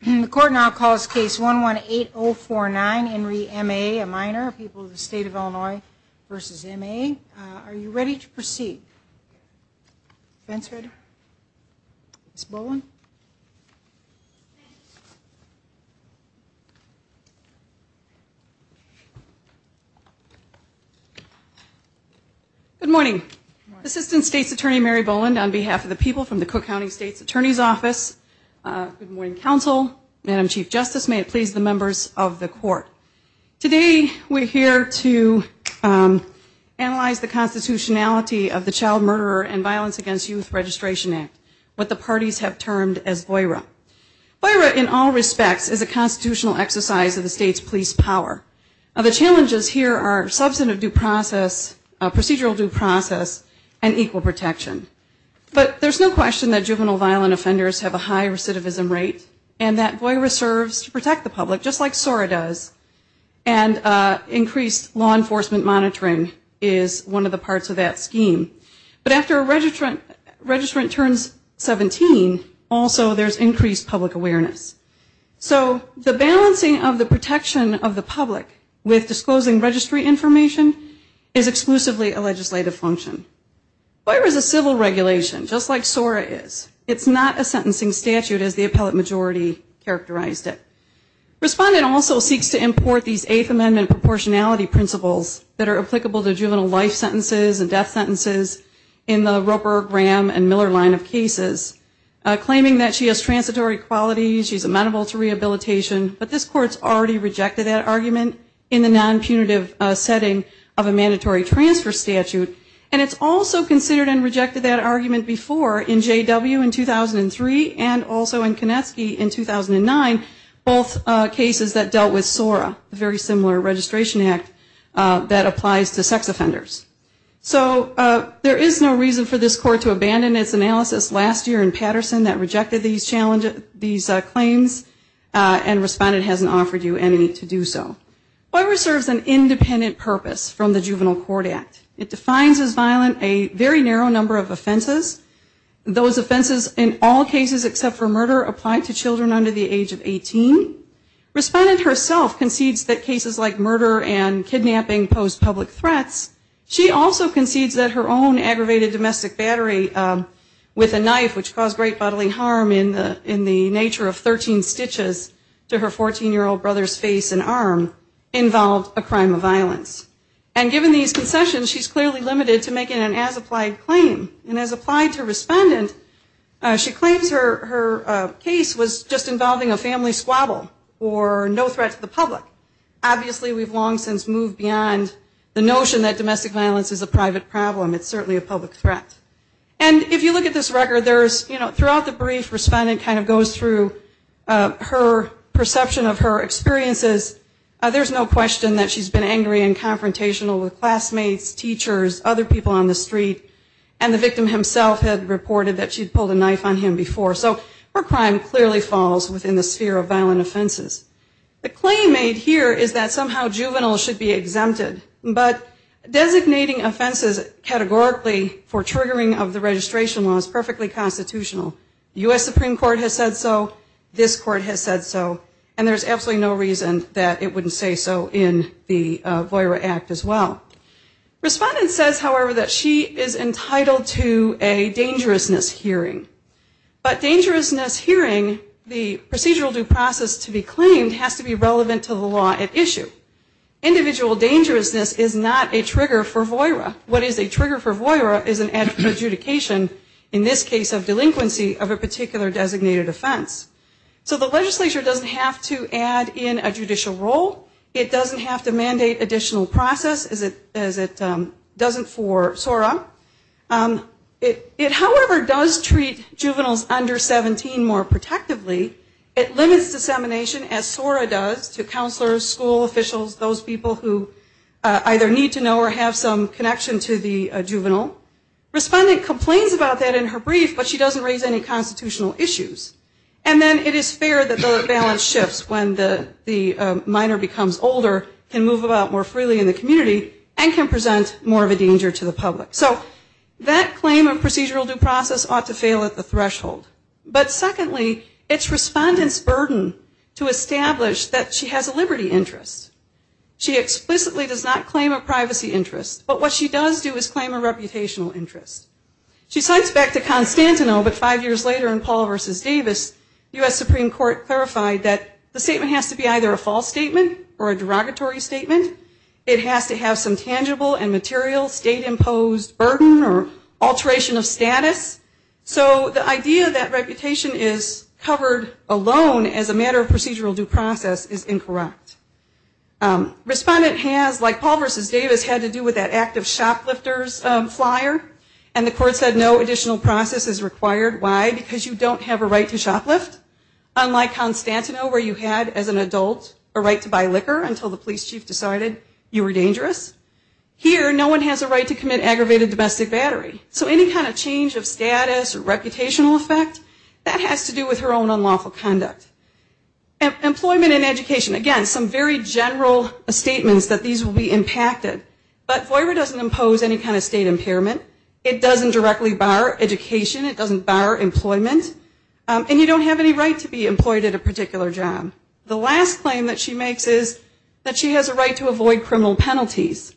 minor, people of the state of Illinois, versus M.A., are you ready to proceed? Defense Reader. Ms. Boland. Good morning. Assistant State's Attorney Mary Boland on behalf of the people from the Cook County State's Attorney's Office. Good Council, Madam Chief Justice, may it please the members of the court. Today we're here to analyze the constitutionality of the Child Murderer and Violence Against Youth Registration Act, what the parties have termed as VOIRA. VOIRA in all respects is a constitutional exercise of the state's police power. The challenges here are substantive due process, procedural due process, and equal protection. But there's no question that juvenile violent offenders have a high recidivism rate, and that VOIRA serves to protect the public, just like SORA does, and increased law enforcement monitoring is one of the parts of that scheme. But after a registrant turns 17, also there's increased public awareness. So the balancing of the protection of the public with disclosing registry information is exclusively a legislative function. VOIRA is a civil regulation, just like SORA is. It's not a sentencing statute as the appellate majority characterized it. Respondent also seeks to import these Eighth Amendment proportionality principles that are applicable to juvenile life sentences and death sentences in the Roper, Graham, and Miller line of cases, claiming that she has transitory qualities, she's amenable to transfer statute, and it's also considered and rejected that argument before in J.W. in 2003 and also in Konetsky in 2009, both cases that dealt with SORA, a very similar registration act that applies to sex offenders. So there is no reason for this Court to abandon its analysis last year in Patterson that rejected these claims and Respondent hasn't offered you any to do so. VOIRA serves an independent purpose from the Juvenile Court Act. It defines as violent a very narrow number of offenses, those offenses in all cases except for murder applied to children under the age of 18. Respondent herself concedes that cases like murder and kidnapping pose public threats. She also concedes that her own aggravated domestic battery with a knife which caused great bodily harm in the nature of 13 stitches to her husband, was a direct result of domestic violence. And given these concessions, she's clearly limited to making an as-applied claim. And as applied to Respondent, she claims her case was just involving a family squabble or no threat to the public. Obviously we've long since moved beyond the notion that domestic violence is a private problem. It's certainly a public threat. And if you look at this record, there's, you know, throughout the brief Respondent kind of goes through her perception of her experiences. There's no question that she's been angry and confrontational with classmates, teachers, other people on the street. And the victim himself had reported that she'd pulled a knife on him before. So her crime clearly falls within the sphere of violent offenses. The claim made here is that somehow juveniles should be exempted. But designating offenses categorically for triggering of the registration law is perfectly constitutional. The U.S. Supreme Court has said so. This Court has said so. And there's absolutely no reason that it wouldn't say so in the VOIRA Act. Respondent says, however, that she is entitled to a dangerousness hearing. But dangerousness hearing, the procedural due process to be claimed, has to be relevant to the law at issue. Individual dangerousness is not a trigger for VOIRA. What is a trigger for VOIRA is an adjudication, in this case of delinquency, of a particular designated offense. So the legislature doesn't have to add in a judicial role. It doesn't have to mandate additional process, as it doesn't for SORA. It, however, does treat juveniles under 17 more protectively. It limits dissemination, as SORA does, to counselors, school officials, those people who either need to know or have some connection to the juvenile. Respondent complains about that in her brief, but she doesn't raise any constitutional issues. And then it is fair that the balance shifts when the minor becomes older, can move about more freely in the community, and can present more of a danger to the public. So that claim of procedural due process ought to fail at the threshold. But secondly, it's respondent's burden to establish that she has a liberty interest. She explicitly does not claim a privacy interest. But what she does do is claim a reputational interest. She cites back to the statement has to be either a false statement or a derogatory statement. It has to have some tangible and material state imposed burden or alteration of status. So the idea that reputation is covered alone as a matter of procedural due process is incorrect. Respondent has, like Paul versus Davis, had to do with that act of shoplifters flyer. And the court said no additional process is allowed as an adult, a right to buy liquor until the police chief decided you were dangerous. Here no one has a right to commit aggravated domestic battery. So any kind of change of status or reputational effect, that has to do with her own unlawful conduct. Employment and education. Again, some very general statements that these will be impacted. But FOIA doesn't impose any kind of state impairment. It doesn't directly bar education. It doesn't bar employment. And you don't have any right to be employed at a particular job. The last claim that she makes is that she has a right to avoid criminal penalties.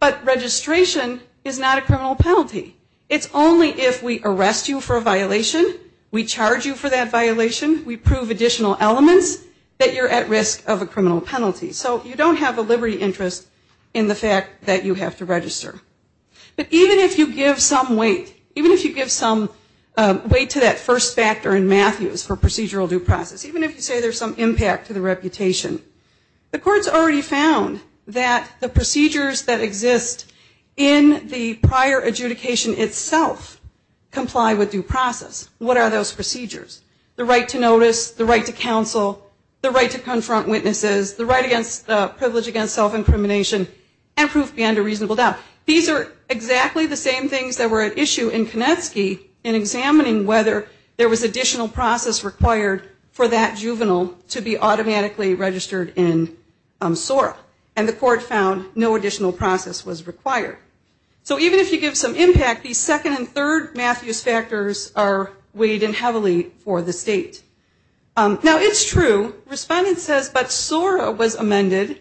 But registration is not a criminal penalty. It's only if we arrest you for a violation, we charge you for that violation, we prove additional elements, that you're at risk of a criminal penalty. So you don't have a liberty interest in the fact that you have to register. But even if you give some weight, even if you give some weight to that first factor in Matthews for procedural due process, even if you say there's some impact to the reputation, the court's already found that the procedures that exist in the prior adjudication itself comply with due process. What are those procedures? The right to notice, the right to counsel, the right to confront witnesses, the right against privilege against self-incrimination, and proof beyond a reasonable doubt. These are exactly the same things that were at issue in Matthews to be automatically registered in SORA. And the court found no additional process was required. So even if you give some impact, the second and third Matthews factors are weighed in heavily for the state. Now it's true, respondent says, but SORA was amended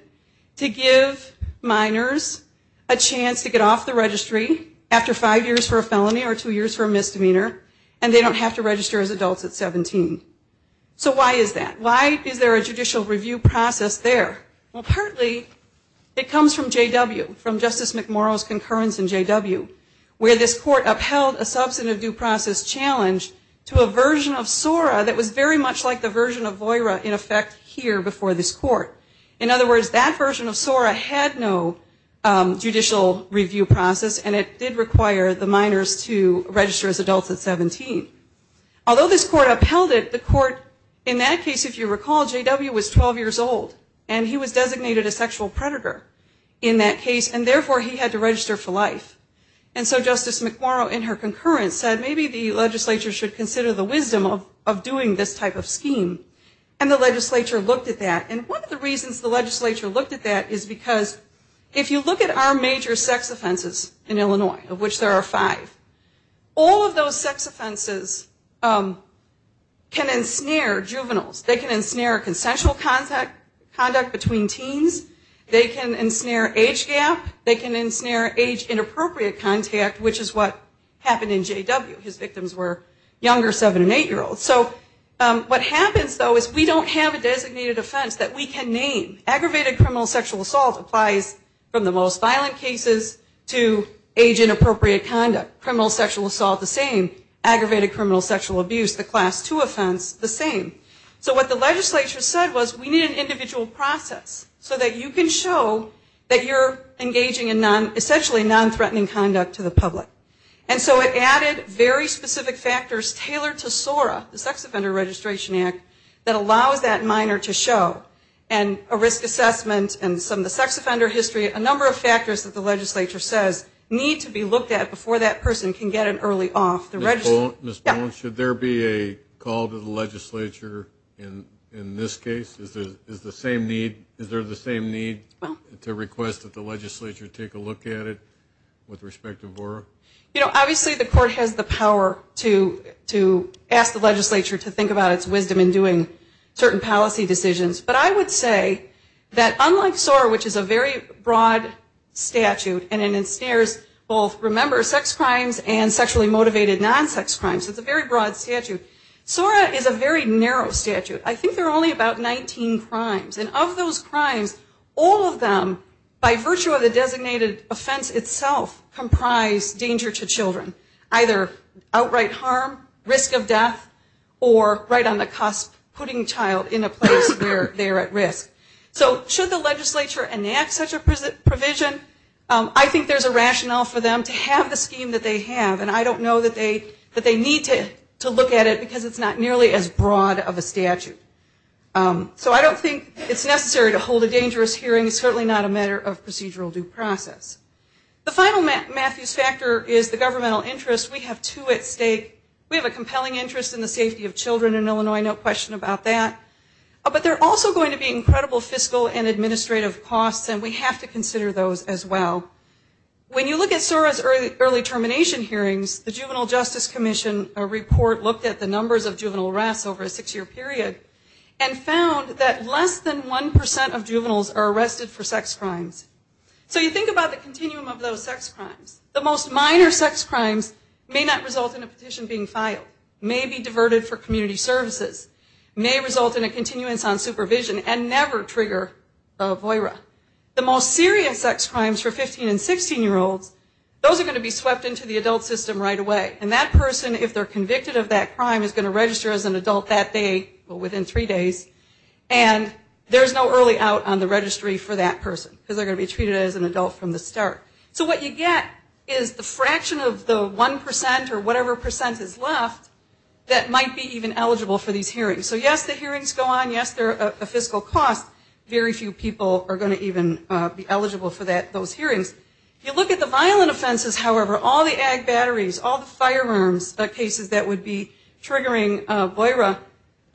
to give minors a chance to get off the registry after five years for a felony or two years for a misdemeanor, and they don't have to register as adults at 17. So why is that? Why is there a judicial review process there? Well, partly it comes from J.W., from Justice McMorrow's concurrence in J.W., where this court upheld a substantive due process challenge to a version of SORA that was very much like the version of VOIRA in effect here before this court. In other words, that version of SORA had no judicial review process, and it did require the minors to register as adults at 17. Although this court upheld it, the court in that case, if you recall, J.W. was 12 years old, and he was designated a sexual predator in that case, and therefore he had to register for life. And so Justice McMorrow in her concurrence said maybe the legislature should consider the wisdom of doing this type of scheme. And the legislature looked at that. And one of the reasons the legislature looked at that is because if you look at our major sex offenses in Illinois, of which there are five, all of those sex offenses can ensnare juveniles. They can ensnare consensual conduct between teens. They can ensnare age gap. They can ensnare age-inappropriate contact, which is what happened in J.W. His victims were younger 7- and 8-year-olds. So what happens though is we don't have a designated offense that we can name. Aggravated criminal sexual assault applies from the most violent cases to age-inappropriate conduct. Criminal sexual assault, the same. Aggravated criminal sexual abuse, the Class 2 offense, the same. So what the legislature said was we need an individual process so that you can show that you're engaging in essentially non-threatening conduct to the public. And so it added very specific factors tailored to SORA, the Sex Offender Registration Act, to make sure that you're engaging in non-threatening conduct that allows that minor to show. And a risk assessment and some of the sex offender history, a number of factors that the legislature says need to be looked at before that person can get an early off. Mr. Poland, should there be a call to the legislature in this case? Is there the same need to request that the legislature take a look at it with respect to VORRA? You know, obviously the court has the power to ask the legislature to think about its wisdom in doing certain policy decisions. But I would say that unlike SORA, which is a very broad statute and it ensnares both, remember, sex crimes and sexually motivated non-sex crimes. It's a very broad statute. SORA is a very narrow statute. I think there are only about 19 crimes. And of those crimes, all of them by virtue of the statute are dangerous to children. Either outright harm, risk of death, or right on the cusp, putting a child in a place where they're at risk. So should the legislature enact such a provision? I think there's a rationale for them to have the scheme that they have. And I don't know that they need to look at it because it's not nearly as broad of a statute. So I don't think it's necessary to hold a dangerous hearing. It's The other is the governmental interest. We have two at stake. We have a compelling interest in the safety of children in Illinois. No question about that. But there are also going to be incredible fiscal and administrative costs, and we have to consider those as well. When you look at SORA's early termination hearings, the Juvenile Justice Commission report looked at the numbers of juvenile arrests over a six-year period and found that less than 1% of juveniles are arrested for sex crimes. So you think about the continuum of those sex crimes. The most minor sex crimes may not result in a petition being filed, may be diverted for community services, may result in a continuance on supervision, and never trigger a VOIRA. The most serious sex crimes for 15- and 16-year-olds, those are going to be swept into the adult registry within three days, and there's no early out on the registry for that person because they're going to be treated as an adult from the start. So what you get is the fraction of the 1% or whatever percent is left that might be even eligible for these hearings. So yes, the hearings go on. Yes, there are fiscal costs. Very few people are going to even be eligible for those hearings. You look at the violent offenses, however, all the ag batteries, all the firearms, the cases that would be triggering VOIRA,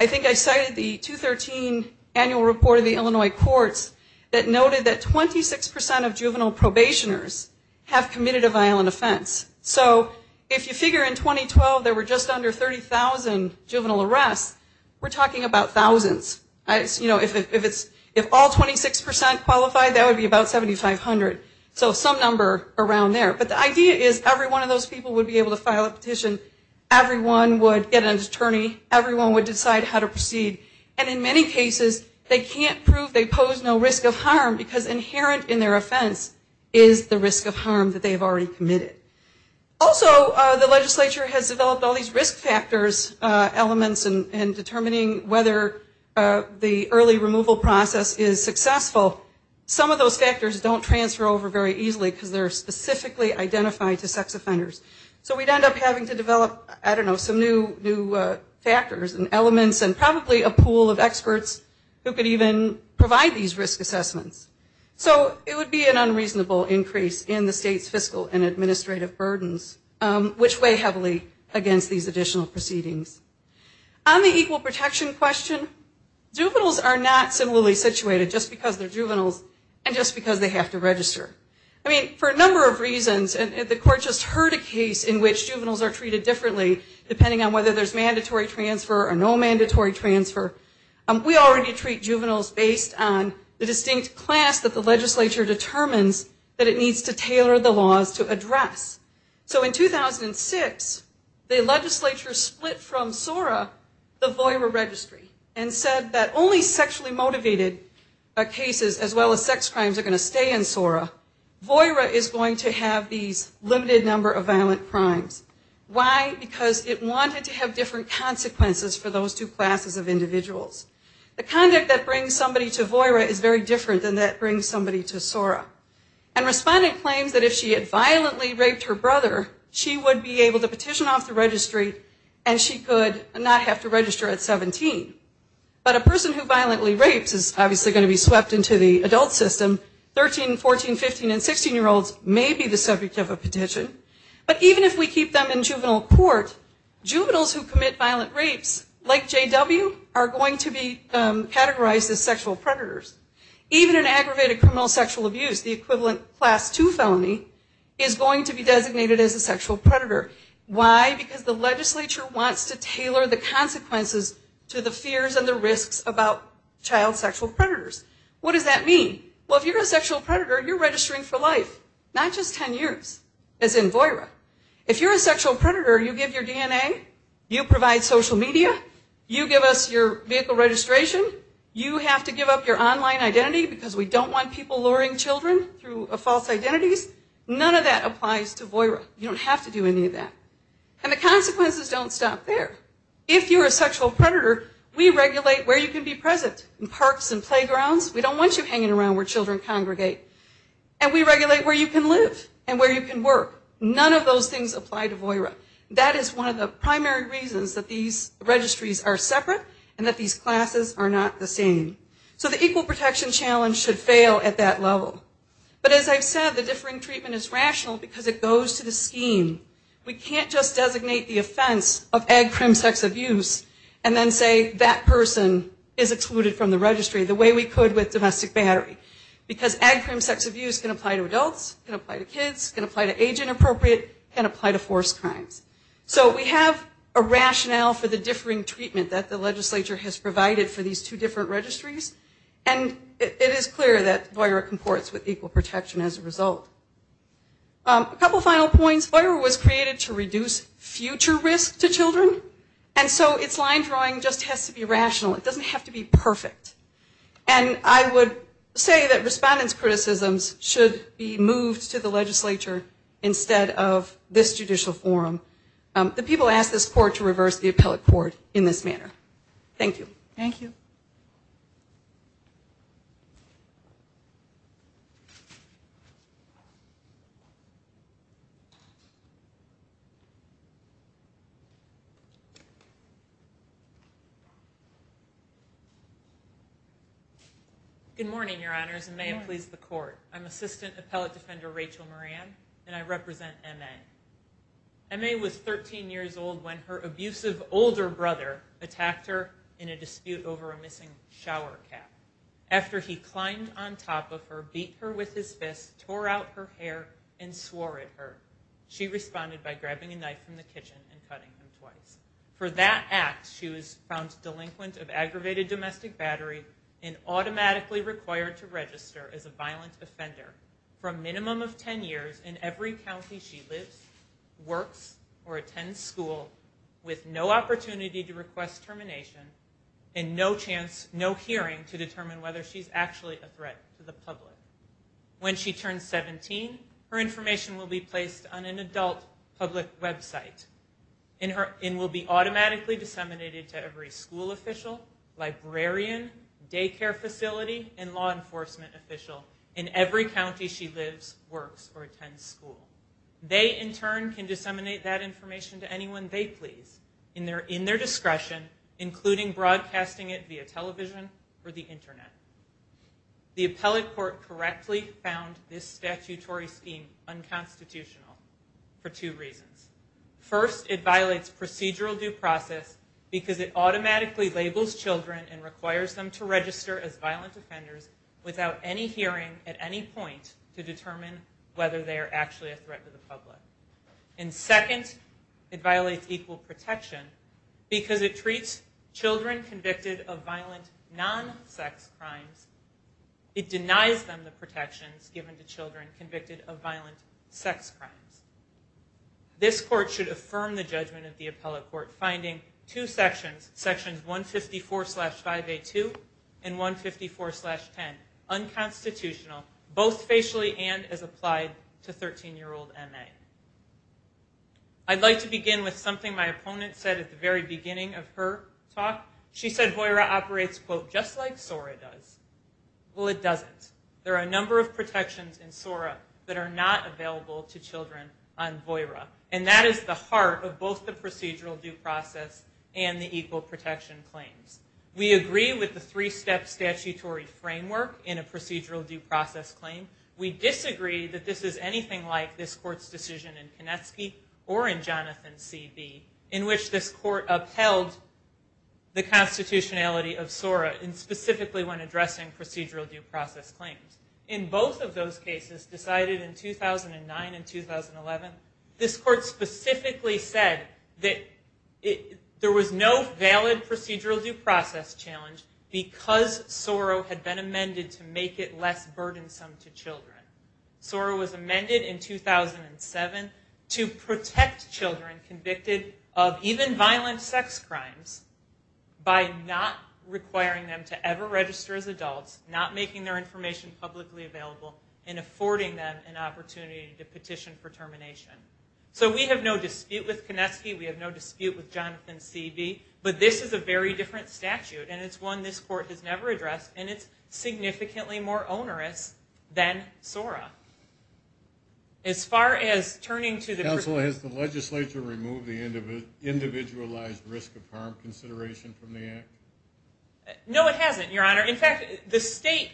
I think that's going to be a significant number. I think I cited the 213 annual report of the Illinois courts that noted that 26% of juvenile probationers have committed a violent offense. So if you figure in 2012 there were just under 30,000 juvenile arrests, we're talking about thousands. If all 26% qualified, that would be about 7,500. So some number around there. But the idea is every one of those people would be able to proceed. And in many cases, they can't prove they pose no risk of harm because inherent in their offense is the risk of harm that they've already committed. Also, the legislature has developed all these risk factors elements in determining whether the early removal process is successful. Some of those factors don't transfer over very easily because they're specifically identified to sex offenders. So we'd end up having to probably a pool of experts who could even provide these risk assessments. So it would be an unreasonable increase in the state's fiscal and administrative burdens, which weigh heavily against these additional proceedings. On the equal protection question, juveniles are not similarly situated just because they're juveniles and just because they have to register. I mean, for a number of reasons, and the court just heard a case in which juveniles are treated differently depending on whether there's mandatory transfer or no mandatory transfer. We already treat juveniles based on the distinct class that the legislature determines that it needs to tailor the laws to address. So in 2006, the legislature split from SORA the VOIRA registry and said that only sexually motivated cases as well as sex crimes are going to stay in SORA. VOIRA is going to have these limited number of violent crimes. Why? Because it wanted to have a system of enforcement that would have different consequences for those two classes of individuals. The conduct that brings somebody to VOIRA is very different than that brings somebody to SORA. And respondent claims that if she had violently raped her brother, she would be able to petition off the registry and she could not have to register at 17. But a person who violently rapes is obviously going to be swept into the adult system. 13, 14, 15, and 16-year-olds may be the subject of a petition. But even if we keep them in juvenile court, juveniles who commit violent rapes, like JW, are going to be categorized as sexual predators. Even an aggravated criminal sexual abuse, the equivalent class 2 felony, is going to be designated as a sexual predator. Why? Because the legislature wants to tailor the consequences to the fears and the risks about child sexual predators. What does that mean? Well, if you're a sexual predator, you're registering for life, not just 10 years, as in VOIRA. If you're a sexual predator, you give your DNA, you give your DNA, you give your DNA, you provide social media, you give us your vehicle registration, you have to give up your online identity because we don't want people luring children through false identities. None of that applies to VOIRA. You don't have to do any of that. And the consequences don't stop there. If you're a sexual predator, we regulate where you can be present, in parks and playgrounds. We don't want you hanging around where children congregate. And we regulate where you can live and where you can work. None of those things apply to VOIRA. We want to make sure that the legislature understands that these registries are separate and that these classes are not the same. So the equal protection challenge should fail at that level. But as I've said, the differing treatment is rational because it goes to the scheme. We can't just designate the offense of ag crime sex abuse and then say that person is excluded from the registry the way we could with domestic battery. Because ag crime sex abuse can apply to adults, can apply to kids, can apply to age groups. So there's a rationale for the differing treatment that the legislature has provided for these two different registries. And it is clear that VOIRA comports with equal protection as a result. A couple final points. VOIRA was created to reduce future risk to children. And so its line drawing just has to be rational. It doesn't have to be perfect. And I would say that respondents' criticisms should be moved to the legislature instead of this judicial forum. The people asked this court to reverse the appellate court in this manner. Thank you. Good morning, Your Honors, and may it please the court. I'm Assistant Appellate Defender Rachel Moran, and I represent MA. MA was 13 years old when her abusive older brother attacked her in a dispute over a missing shower cap. After he climbed on top of her, beat her with his fist, tore out her hair, and swore at her, she responded by grabbing a knife from the kitchen and cutting him twice. For that act, she was found delinquent of aggravated domestic battery and automatically required to register as a violent offender for a minimum of ten years in every county she lives, works, or attends school, and has a criminal record. She was released from jail with no opportunity to request termination and no chance, no hearing to determine whether she's actually a threat to the public. When she turns 17, her information will be placed on an adult public website and will be automatically disseminated to every school official, librarian, daycare facility, and law enforcement official in every county she lives, works, or attends school. They, in turn, can disseminate that information to anyone they want to please in their discretion, including broadcasting it via television or the internet. The appellate court correctly found this statutory scheme unconstitutional for two reasons. First, it violates procedural due process because it automatically labels children and requires them to register as violent offenders without any hearing at any point to provide equal protection. Because it treats children convicted of violent non-sex crimes, it denies them the protections given to children convicted of violent sex crimes. This court should affirm the judgment of the appellate court, finding two sections, sections 154-5A2 and 154-10 unconstitutional, both facially and as applied to 13-year-old children under the age of 18. I'd like to begin with something my opponent said at the very beginning of her talk. She said VOIRA operates, quote, just like SORA does. Well, it doesn't. There are a number of protections in SORA that are not available to children on VOIRA. And that is the heart of both the procedural due process and the equal protection claims. We agree with the three-step statutory framework in a procedural due process claim. We disagree that this is anything like this court's decision in Kanetsky or in Jonathan C. B., in which this court upheld the constitutionality of SORA, and specifically when addressing procedural due process claims. In both of those cases decided in 2009 and 2011, this court specifically said that there was no valid procedural due process challenge because SORA had been amended to make it less burdensome to children. SORA was amended in 2007 to protect children convicted of even violent sex crimes by not requiring them to ever register as adults, not making their information publicly available, and affording them an opportunity to petition for termination. So we have no dispute with Kanetsky. We have no dispute with Jonathan C. B., but this is a very different statute, and it's one this court has never addressed, and it's significantly more onerous than SORA. As far as turning to the... Counsel, has the legislature removed the individualized risk of harm consideration from the act? No, it hasn't, Your Honor. In fact, the state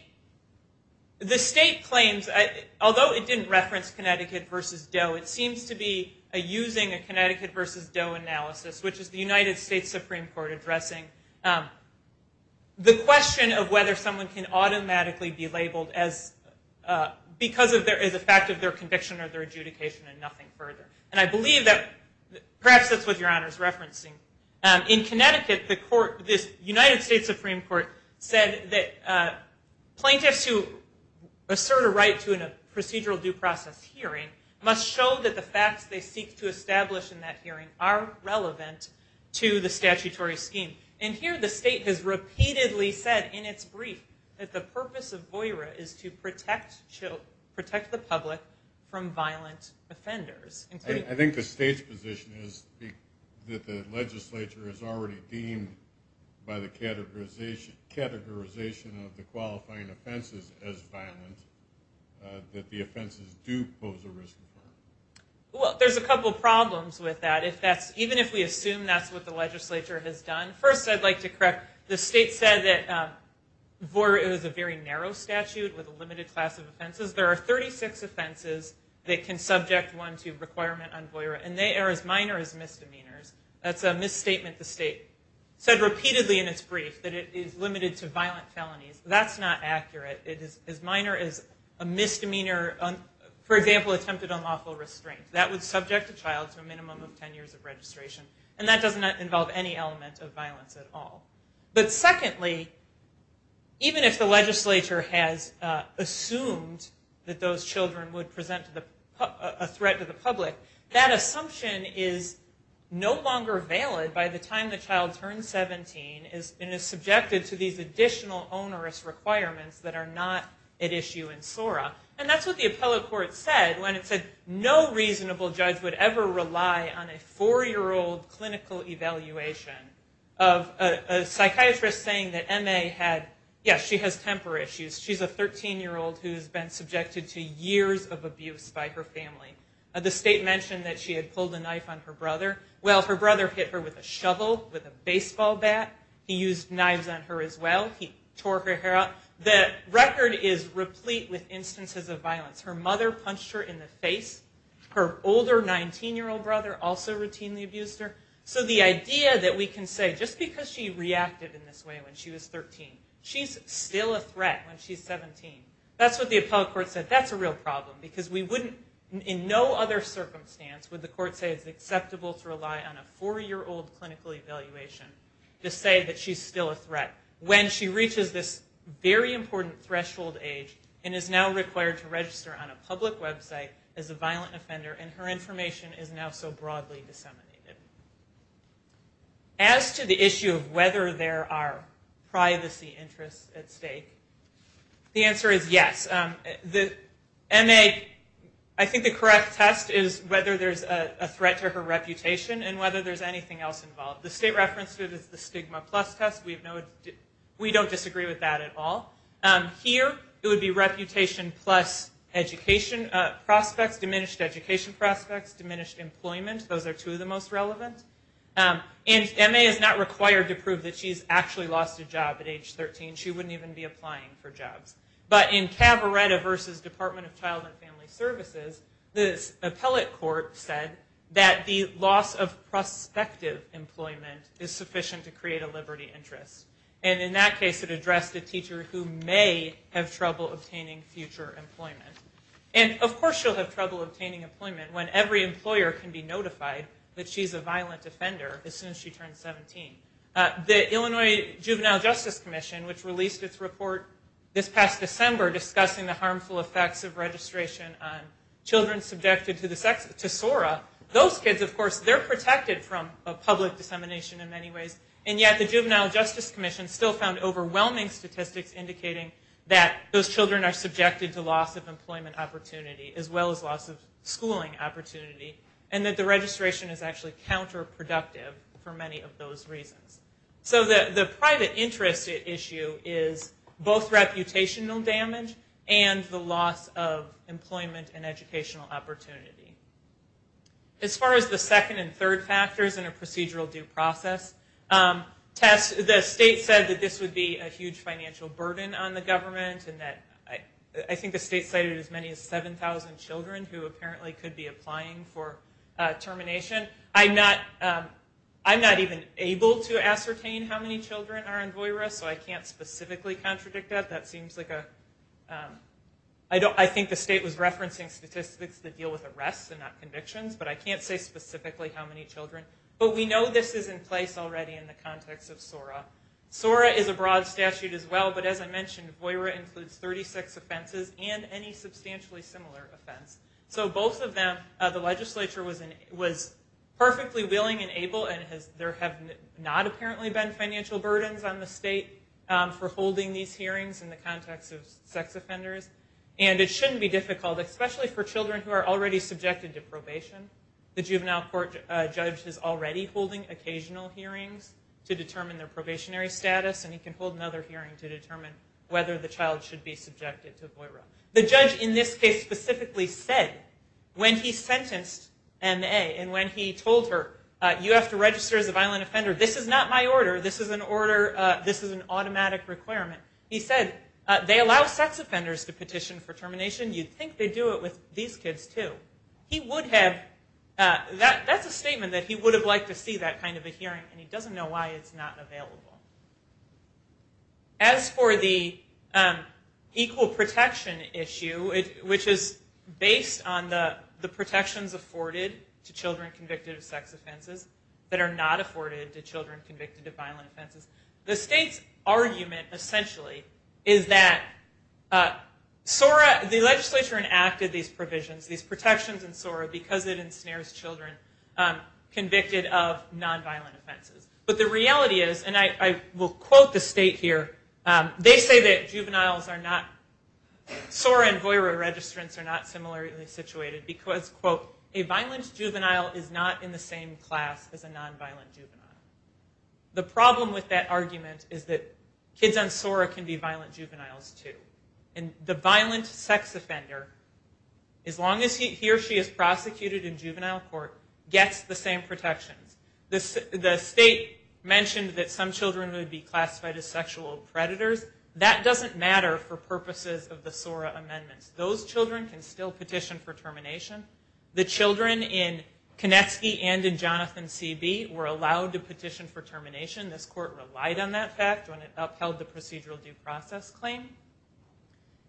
claims, although it didn't reference Connecticut versus Doe, it seems to be using a Connecticut versus Doe analysis, which is the United States Supreme Court addressing the question of whether someone can automatically be labeled because of the fact of their conviction or their adjudication and nothing further. And I believe that perhaps that's what Your Honor is referencing. In Connecticut, the United States Supreme Court said that plaintiffs who assert a right to a procedural due process hearing must show that the facts they seek to establish in that hearing are relevant to the statutory scheme. And here the state has repeatedly said in its brief that the purpose of VOIRA is to protect the public from violent offenders. I think the state's position is that the legislature has already deemed by the categorization of the qualifying offenses as violent that the offenses do pose a risk of harm. Well, there's a couple problems with that. Even if we assume that's what the legislature has done, first I'd like to correct, the state said that VOIRA is a very narrow statute with a limited class of offenses. There are 36 offenses that can subject one to requirement on VOIRA, and they are as minor as misdemeanors. That's a misstatement the state said repeatedly in its brief, that it is limited to violent felonies. That's not a restraint. That would subject a child to a minimum of 10 years of registration, and that doesn't involve any element of violence at all. But secondly, even if the legislature has assumed that those children would present a threat to the public, that assumption is no longer valid by the time the child turns 17 and is subjected to these additional onerous requirements that are not at issue in SORA. And that's what the appellate court said when it said no child would be subject to these additional onerous requirements. No reasonable judge would ever rely on a 4-year-old clinical evaluation of a psychiatrist saying that MA had, yes, she has temper issues. She's a 13-year-old who's been subjected to years of abuse by her family. The state mentioned that she had pulled a knife on her brother. Well, her brother hit her with a shovel, with a baseball bat. He used knives on her as well. He tore her hair out. The record is replete with instances of violence. Her mother punched her in the face, and her brother her older 19-year-old brother also routinely abused her. So the idea that we can say just because she reacted in this way when she was 13, she's still a threat when she's 17. That's what the appellate court said. That's a real problem, because we wouldn't in no other circumstance would the court say it's acceptable to rely on a 4-year-old clinical evaluation to say that she's still a threat when she reaches this very important threshold age and is now an offender, and her information is now so broadly disseminated. As to the issue of whether there are privacy interests at stake, the answer is yes. I think the correct test is whether there's a threat to her reputation and whether there's anything else involved. The state referenced it as the stigma plus test. We don't disagree with that at all. Here, it would be reputation plus education prospects, diminished education prospects, diminished employment. Those are two of the most relevant. And Emma is not required to prove that she's actually lost a job at age 13. She wouldn't even be applying for jobs. But in Cabaretta v. Department of Child and Family Services, the appellate court said that the loss of prospective employment is sufficient to create a liberty interest. And in that case, it addressed a teacher who may have trouble obtaining future employment. And of course she'll have trouble obtaining employment when every employer can be notified that she's a violent offender as soon as she turns 17. The Illinois Juvenile Justice Commission, which released its report this past December discussing the harmful effects of registration on children subjected to SORA, those kids, of course, they're protected from public dissemination in many ways. And yet the Juvenile Justice Commission still found overwhelming statistics indicating that those children are subjected to loss of employment opportunity, as well as loss of schooling opportunity, and that the registration is actually counterproductive for many of those reasons. So the private interest issue is both reputational damage and the loss of employment and educational opportunity. As far as the second and third factors in a procedural due process test, the state said that this would be a huge financial burden on the government and that I think the state cited as many as 7,000 children who apparently could be applying for termination. I'm not even able to ascertain how many children are on VOIRA, so I can't specifically contradict that. That seems like a... I think the state was referencing statistics that deal with arrests and not convictions, but I can't say specifically how many children. But we know this is in the context of SORA. SORA is a broad statute as well, but as I mentioned, VOIRA includes 36 offenses and any substantially similar offense. So both of them, the legislature was perfectly willing and able, and there have not apparently been financial burdens on the state for holding these hearings in the context of sex offenders. And it shouldn't be difficult, especially for children who are already subjected to probation. The juvenile court judge is already holding occasional hearings to determine their probationary status, and he can hold another hearing to determine whether the child should be subjected to VOIRA. The judge in this case specifically said, when he sentenced M.A. and when he told her, you have to register as a violent offender, this is not my order, this is an automatic requirement. He said, they allow sex offenders to petition for termination, you'd think they'd do it with these kids too. He would have, that's a kind of a hearing, and he doesn't know why it's not available. As for the equal protection issue, which is based on the protections afforded to children convicted of sex offenses that are not afforded to children convicted of violent offenses, the state's argument essentially is that SORA, the legislature enacted these provisions, these protections in order to protect children from non-violent offenses. But the reality is, and I will quote the state here, they say that juveniles are not, SORA and VOIRA registrants are not similarly situated because, quote, a violent juvenile is not in the same class as a non-violent juvenile. The problem with that argument is that kids on SORA can be violent juveniles too. And the violent sex offender, as long as he or she is prosecuted in juvenile court, gets the same protections. The state mentioned that some children would be classified as sexual predators. That doesn't matter for purposes of the SORA amendments. Those children can still petition for termination. The children in Konetsky and in Jonathan C.B. were allowed to petition for termination. This court relied on that fact when it upheld the procedural due process claim.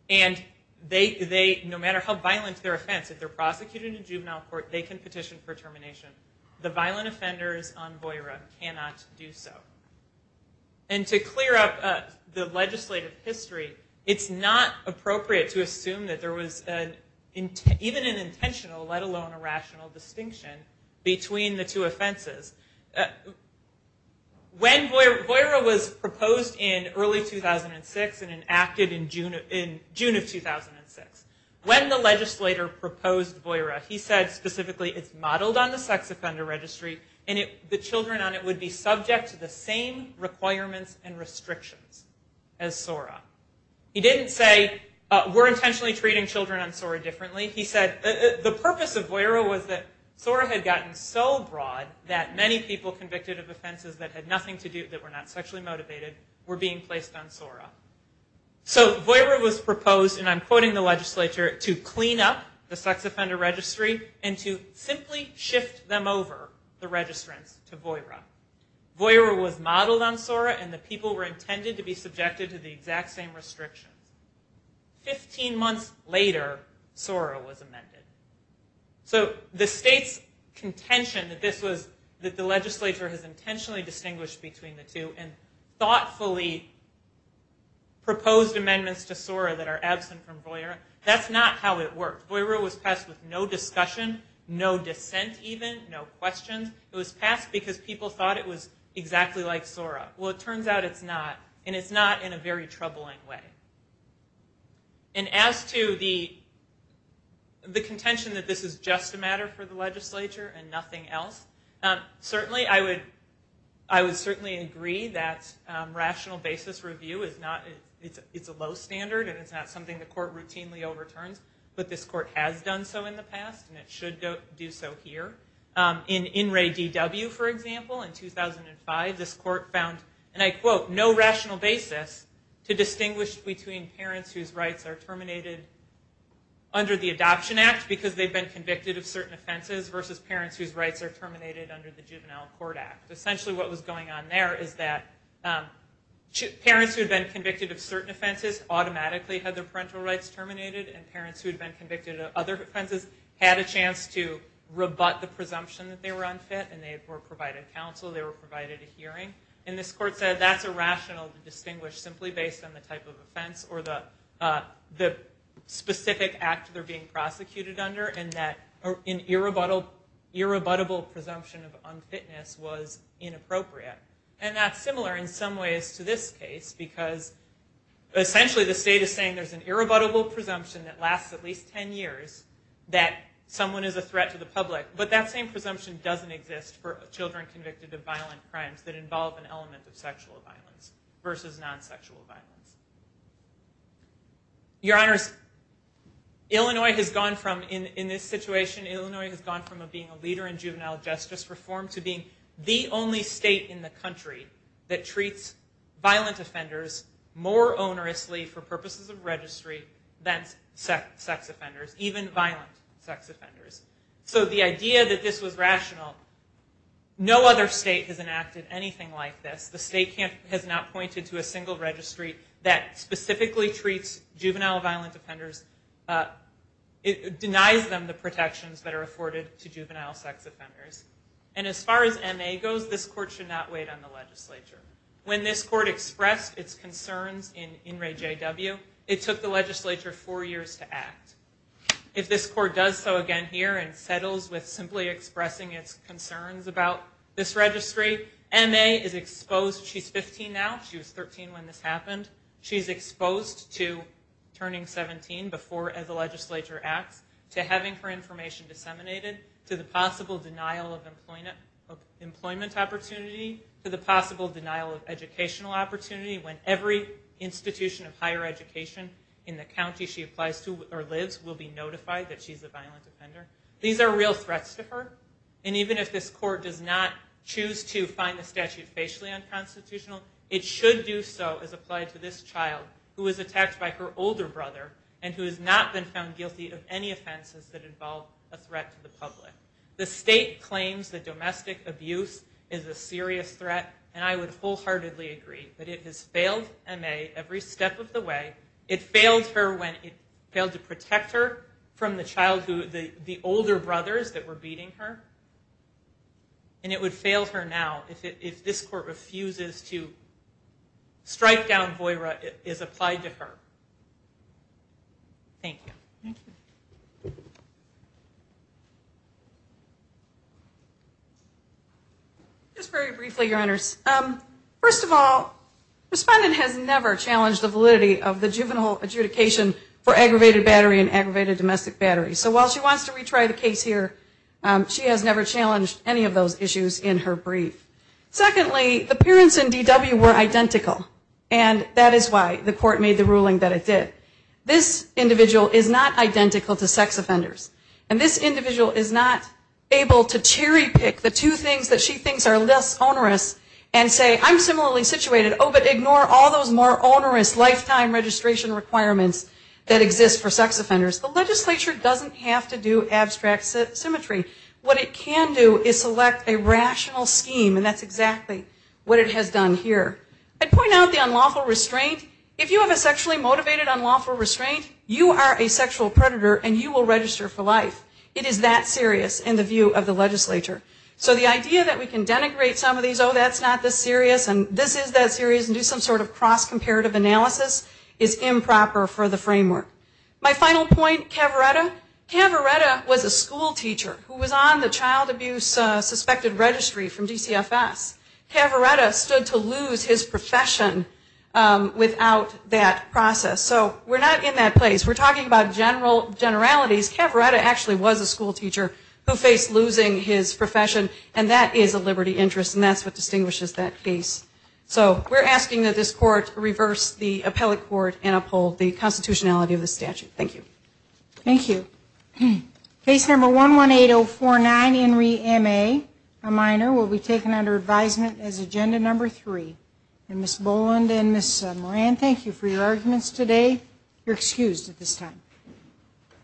And they, no matter how violent their offense, if they're prosecuted in juvenile court, they can still petition for termination. Violent offenders on VOIRA cannot do so. And to clear up the legislative history, it's not appropriate to assume that there was even an intentional, let alone a rational distinction between the two offenses. When VOIRA was proposed in early 2006 and enacted in June of 2006, when the legislator proposed VOIRA, he said that the children on VOIRA would be subject to the same requirements and restrictions as SORA. He didn't say we're intentionally treating children on SORA differently. He said the purpose of VOIRA was that SORA had gotten so broad that many people convicted of offenses that had nothing to do, that were not sexually motivated, were being placed on SORA. So VOIRA was proposed, and I'm quoting the legislature, to clean up the sex offender registry and to simply shift them over, the registrants, to VOIRA. VOIRA was modeled on SORA and the people were intended to be subjected to the exact same restrictions. Fifteen months later, SORA was amended. So the state's contention that this was, that the legislature has intentionally distinguished between the two and thoughtfully proposed amendments to SORA that are absent from VOIRA, that's not how it worked. VOIRA was passed with no discussion, no debate. No dissent even, no questions. It was passed because people thought it was exactly like SORA. Well, it turns out it's not, and it's not in a very troubling way. And as to the contention that this is just a matter for the legislature and nothing else, certainly I would certainly agree that rational basis review is not, it's a low standard and it's not something the court routinely overturns, but this court has done so in the past and it should do so in the future. And it should do so here. In In Re DW, for example, in 2005, this court found, and I quote, no rational basis to distinguish between parents whose rights are terminated under the Adoption Act because they've been convicted of certain offenses versus parents whose rights are terminated under the Juvenile Court Act. Essentially what was going on there is that parents who had been convicted of certain offenses automatically had their parental rights terminated and parents who had been convicted of other offenses had a chance to rebut the presumption that they were unfit and they were provided counsel, they were provided a hearing. And this court said that's irrational to distinguish simply based on the type of offense or the specific act they're being prosecuted under and that an irrebuttable presumption of unfitness was inappropriate. And that's similar in some ways to this case because essentially the state is saying there's an irrebuttable presumption that lasts at least 10 years that someone is a threat to the public, but that same presumption doesn't exist for children convicted of violent crimes that involve an element of sexual violence versus non-sexual violence. Your Honors, Illinois has gone from, in this situation, Illinois has gone from being a leader in juvenile justice reform to being the only state in the country that treats violent offenders more onerously for purposes of registry than sex offenders, even violent sex offenders. So the idea that this was rational, no other state has enacted anything like this. The state has not pointed to a single registry that specifically treats juvenile violent offenders, denies them the protections that are afforded to juvenile sex offenders. And as far as MA goes, this court should not wait on the legislature. When this court expressed its concerns in In Re J W, it took the legislature four years to act. If this court does so again here and settles with simply expressing its concerns about this registry, MA is exposed, she's 15 now, she was 13 when this happened, she's exposed to turning 17 before the legislature acts, to having her information disseminated, to the possible denial of employment opportunity, to the possible denial of educational opportunity, to the possible denial of employment opportunity when every institution of higher education in the county she applies to or lives will be notified that she's a violent offender. These are real threats to her. And even if this court does not choose to find the statute facially unconstitutional, it should do so as applied to this child who was attacked by her older brother and who has not been found guilty of any offenses that involve a threat to the public. The state claims that domestic abuse is a serious threat, and I would wholeheartedly agree that this is a serious threat to this child, but it has failed MA every step of the way. It failed her when it failed to protect her from the childhood, the older brothers that were beating her, and it would fail her now if this court refuses to strike down VOIRA as applied to her. Thank you. Thank you. Just very briefly, Your Honors. First of all, the respondent has never challenged the validity of the juvenile adjudication for aggravated battery and aggravated domestic battery. So while she wants to retry the case here, she has never challenged any of those issues in her brief. Secondly, the parents in DW were identical, and that is why the court made the ruling that it did. This individual is not identical to sex offenders, and this individual is not able to cherry pick the two things that she thinks are less onerous and say, I'm similarly situated, oh, but ignore all those more onerous lifetime registration requirements that exist for sex offenders. The legislature doesn't have to do abstract symmetry. What it can do is select a rational scheme, and that's exactly what it has done here. I'd point out the unlawful restraint. If you have a sexually motivated unlawful restraint, you are a sexual predator, and you will register for life. It is that serious in the view of the legislature. So the idea that we can denigrate some of these, oh, that's not this serious, and this is that serious, and do some sort of cross-comparative analysis is improper for the framework. My final point, Cavaretta. Cavaretta was a school teacher who was on the child abuse suspected registry from GCFS. Cavaretta stood to lose his profession without that process. So we're not in that place. We're talking about generalities. Cavaretta actually was a school teacher who faced losing his profession, and that is a liberty interest, and that's what distinguishes that case. So we're asking that this court reverse the appellate court and uphold the constitutionality of the statute. Thank you. Thank you. Case number 118049, Henry M.A., a minor, will be taken under advisement as agenda number 3. And Ms. Boland and Ms. Moran, thank you for your arguments today. You're excused at this time.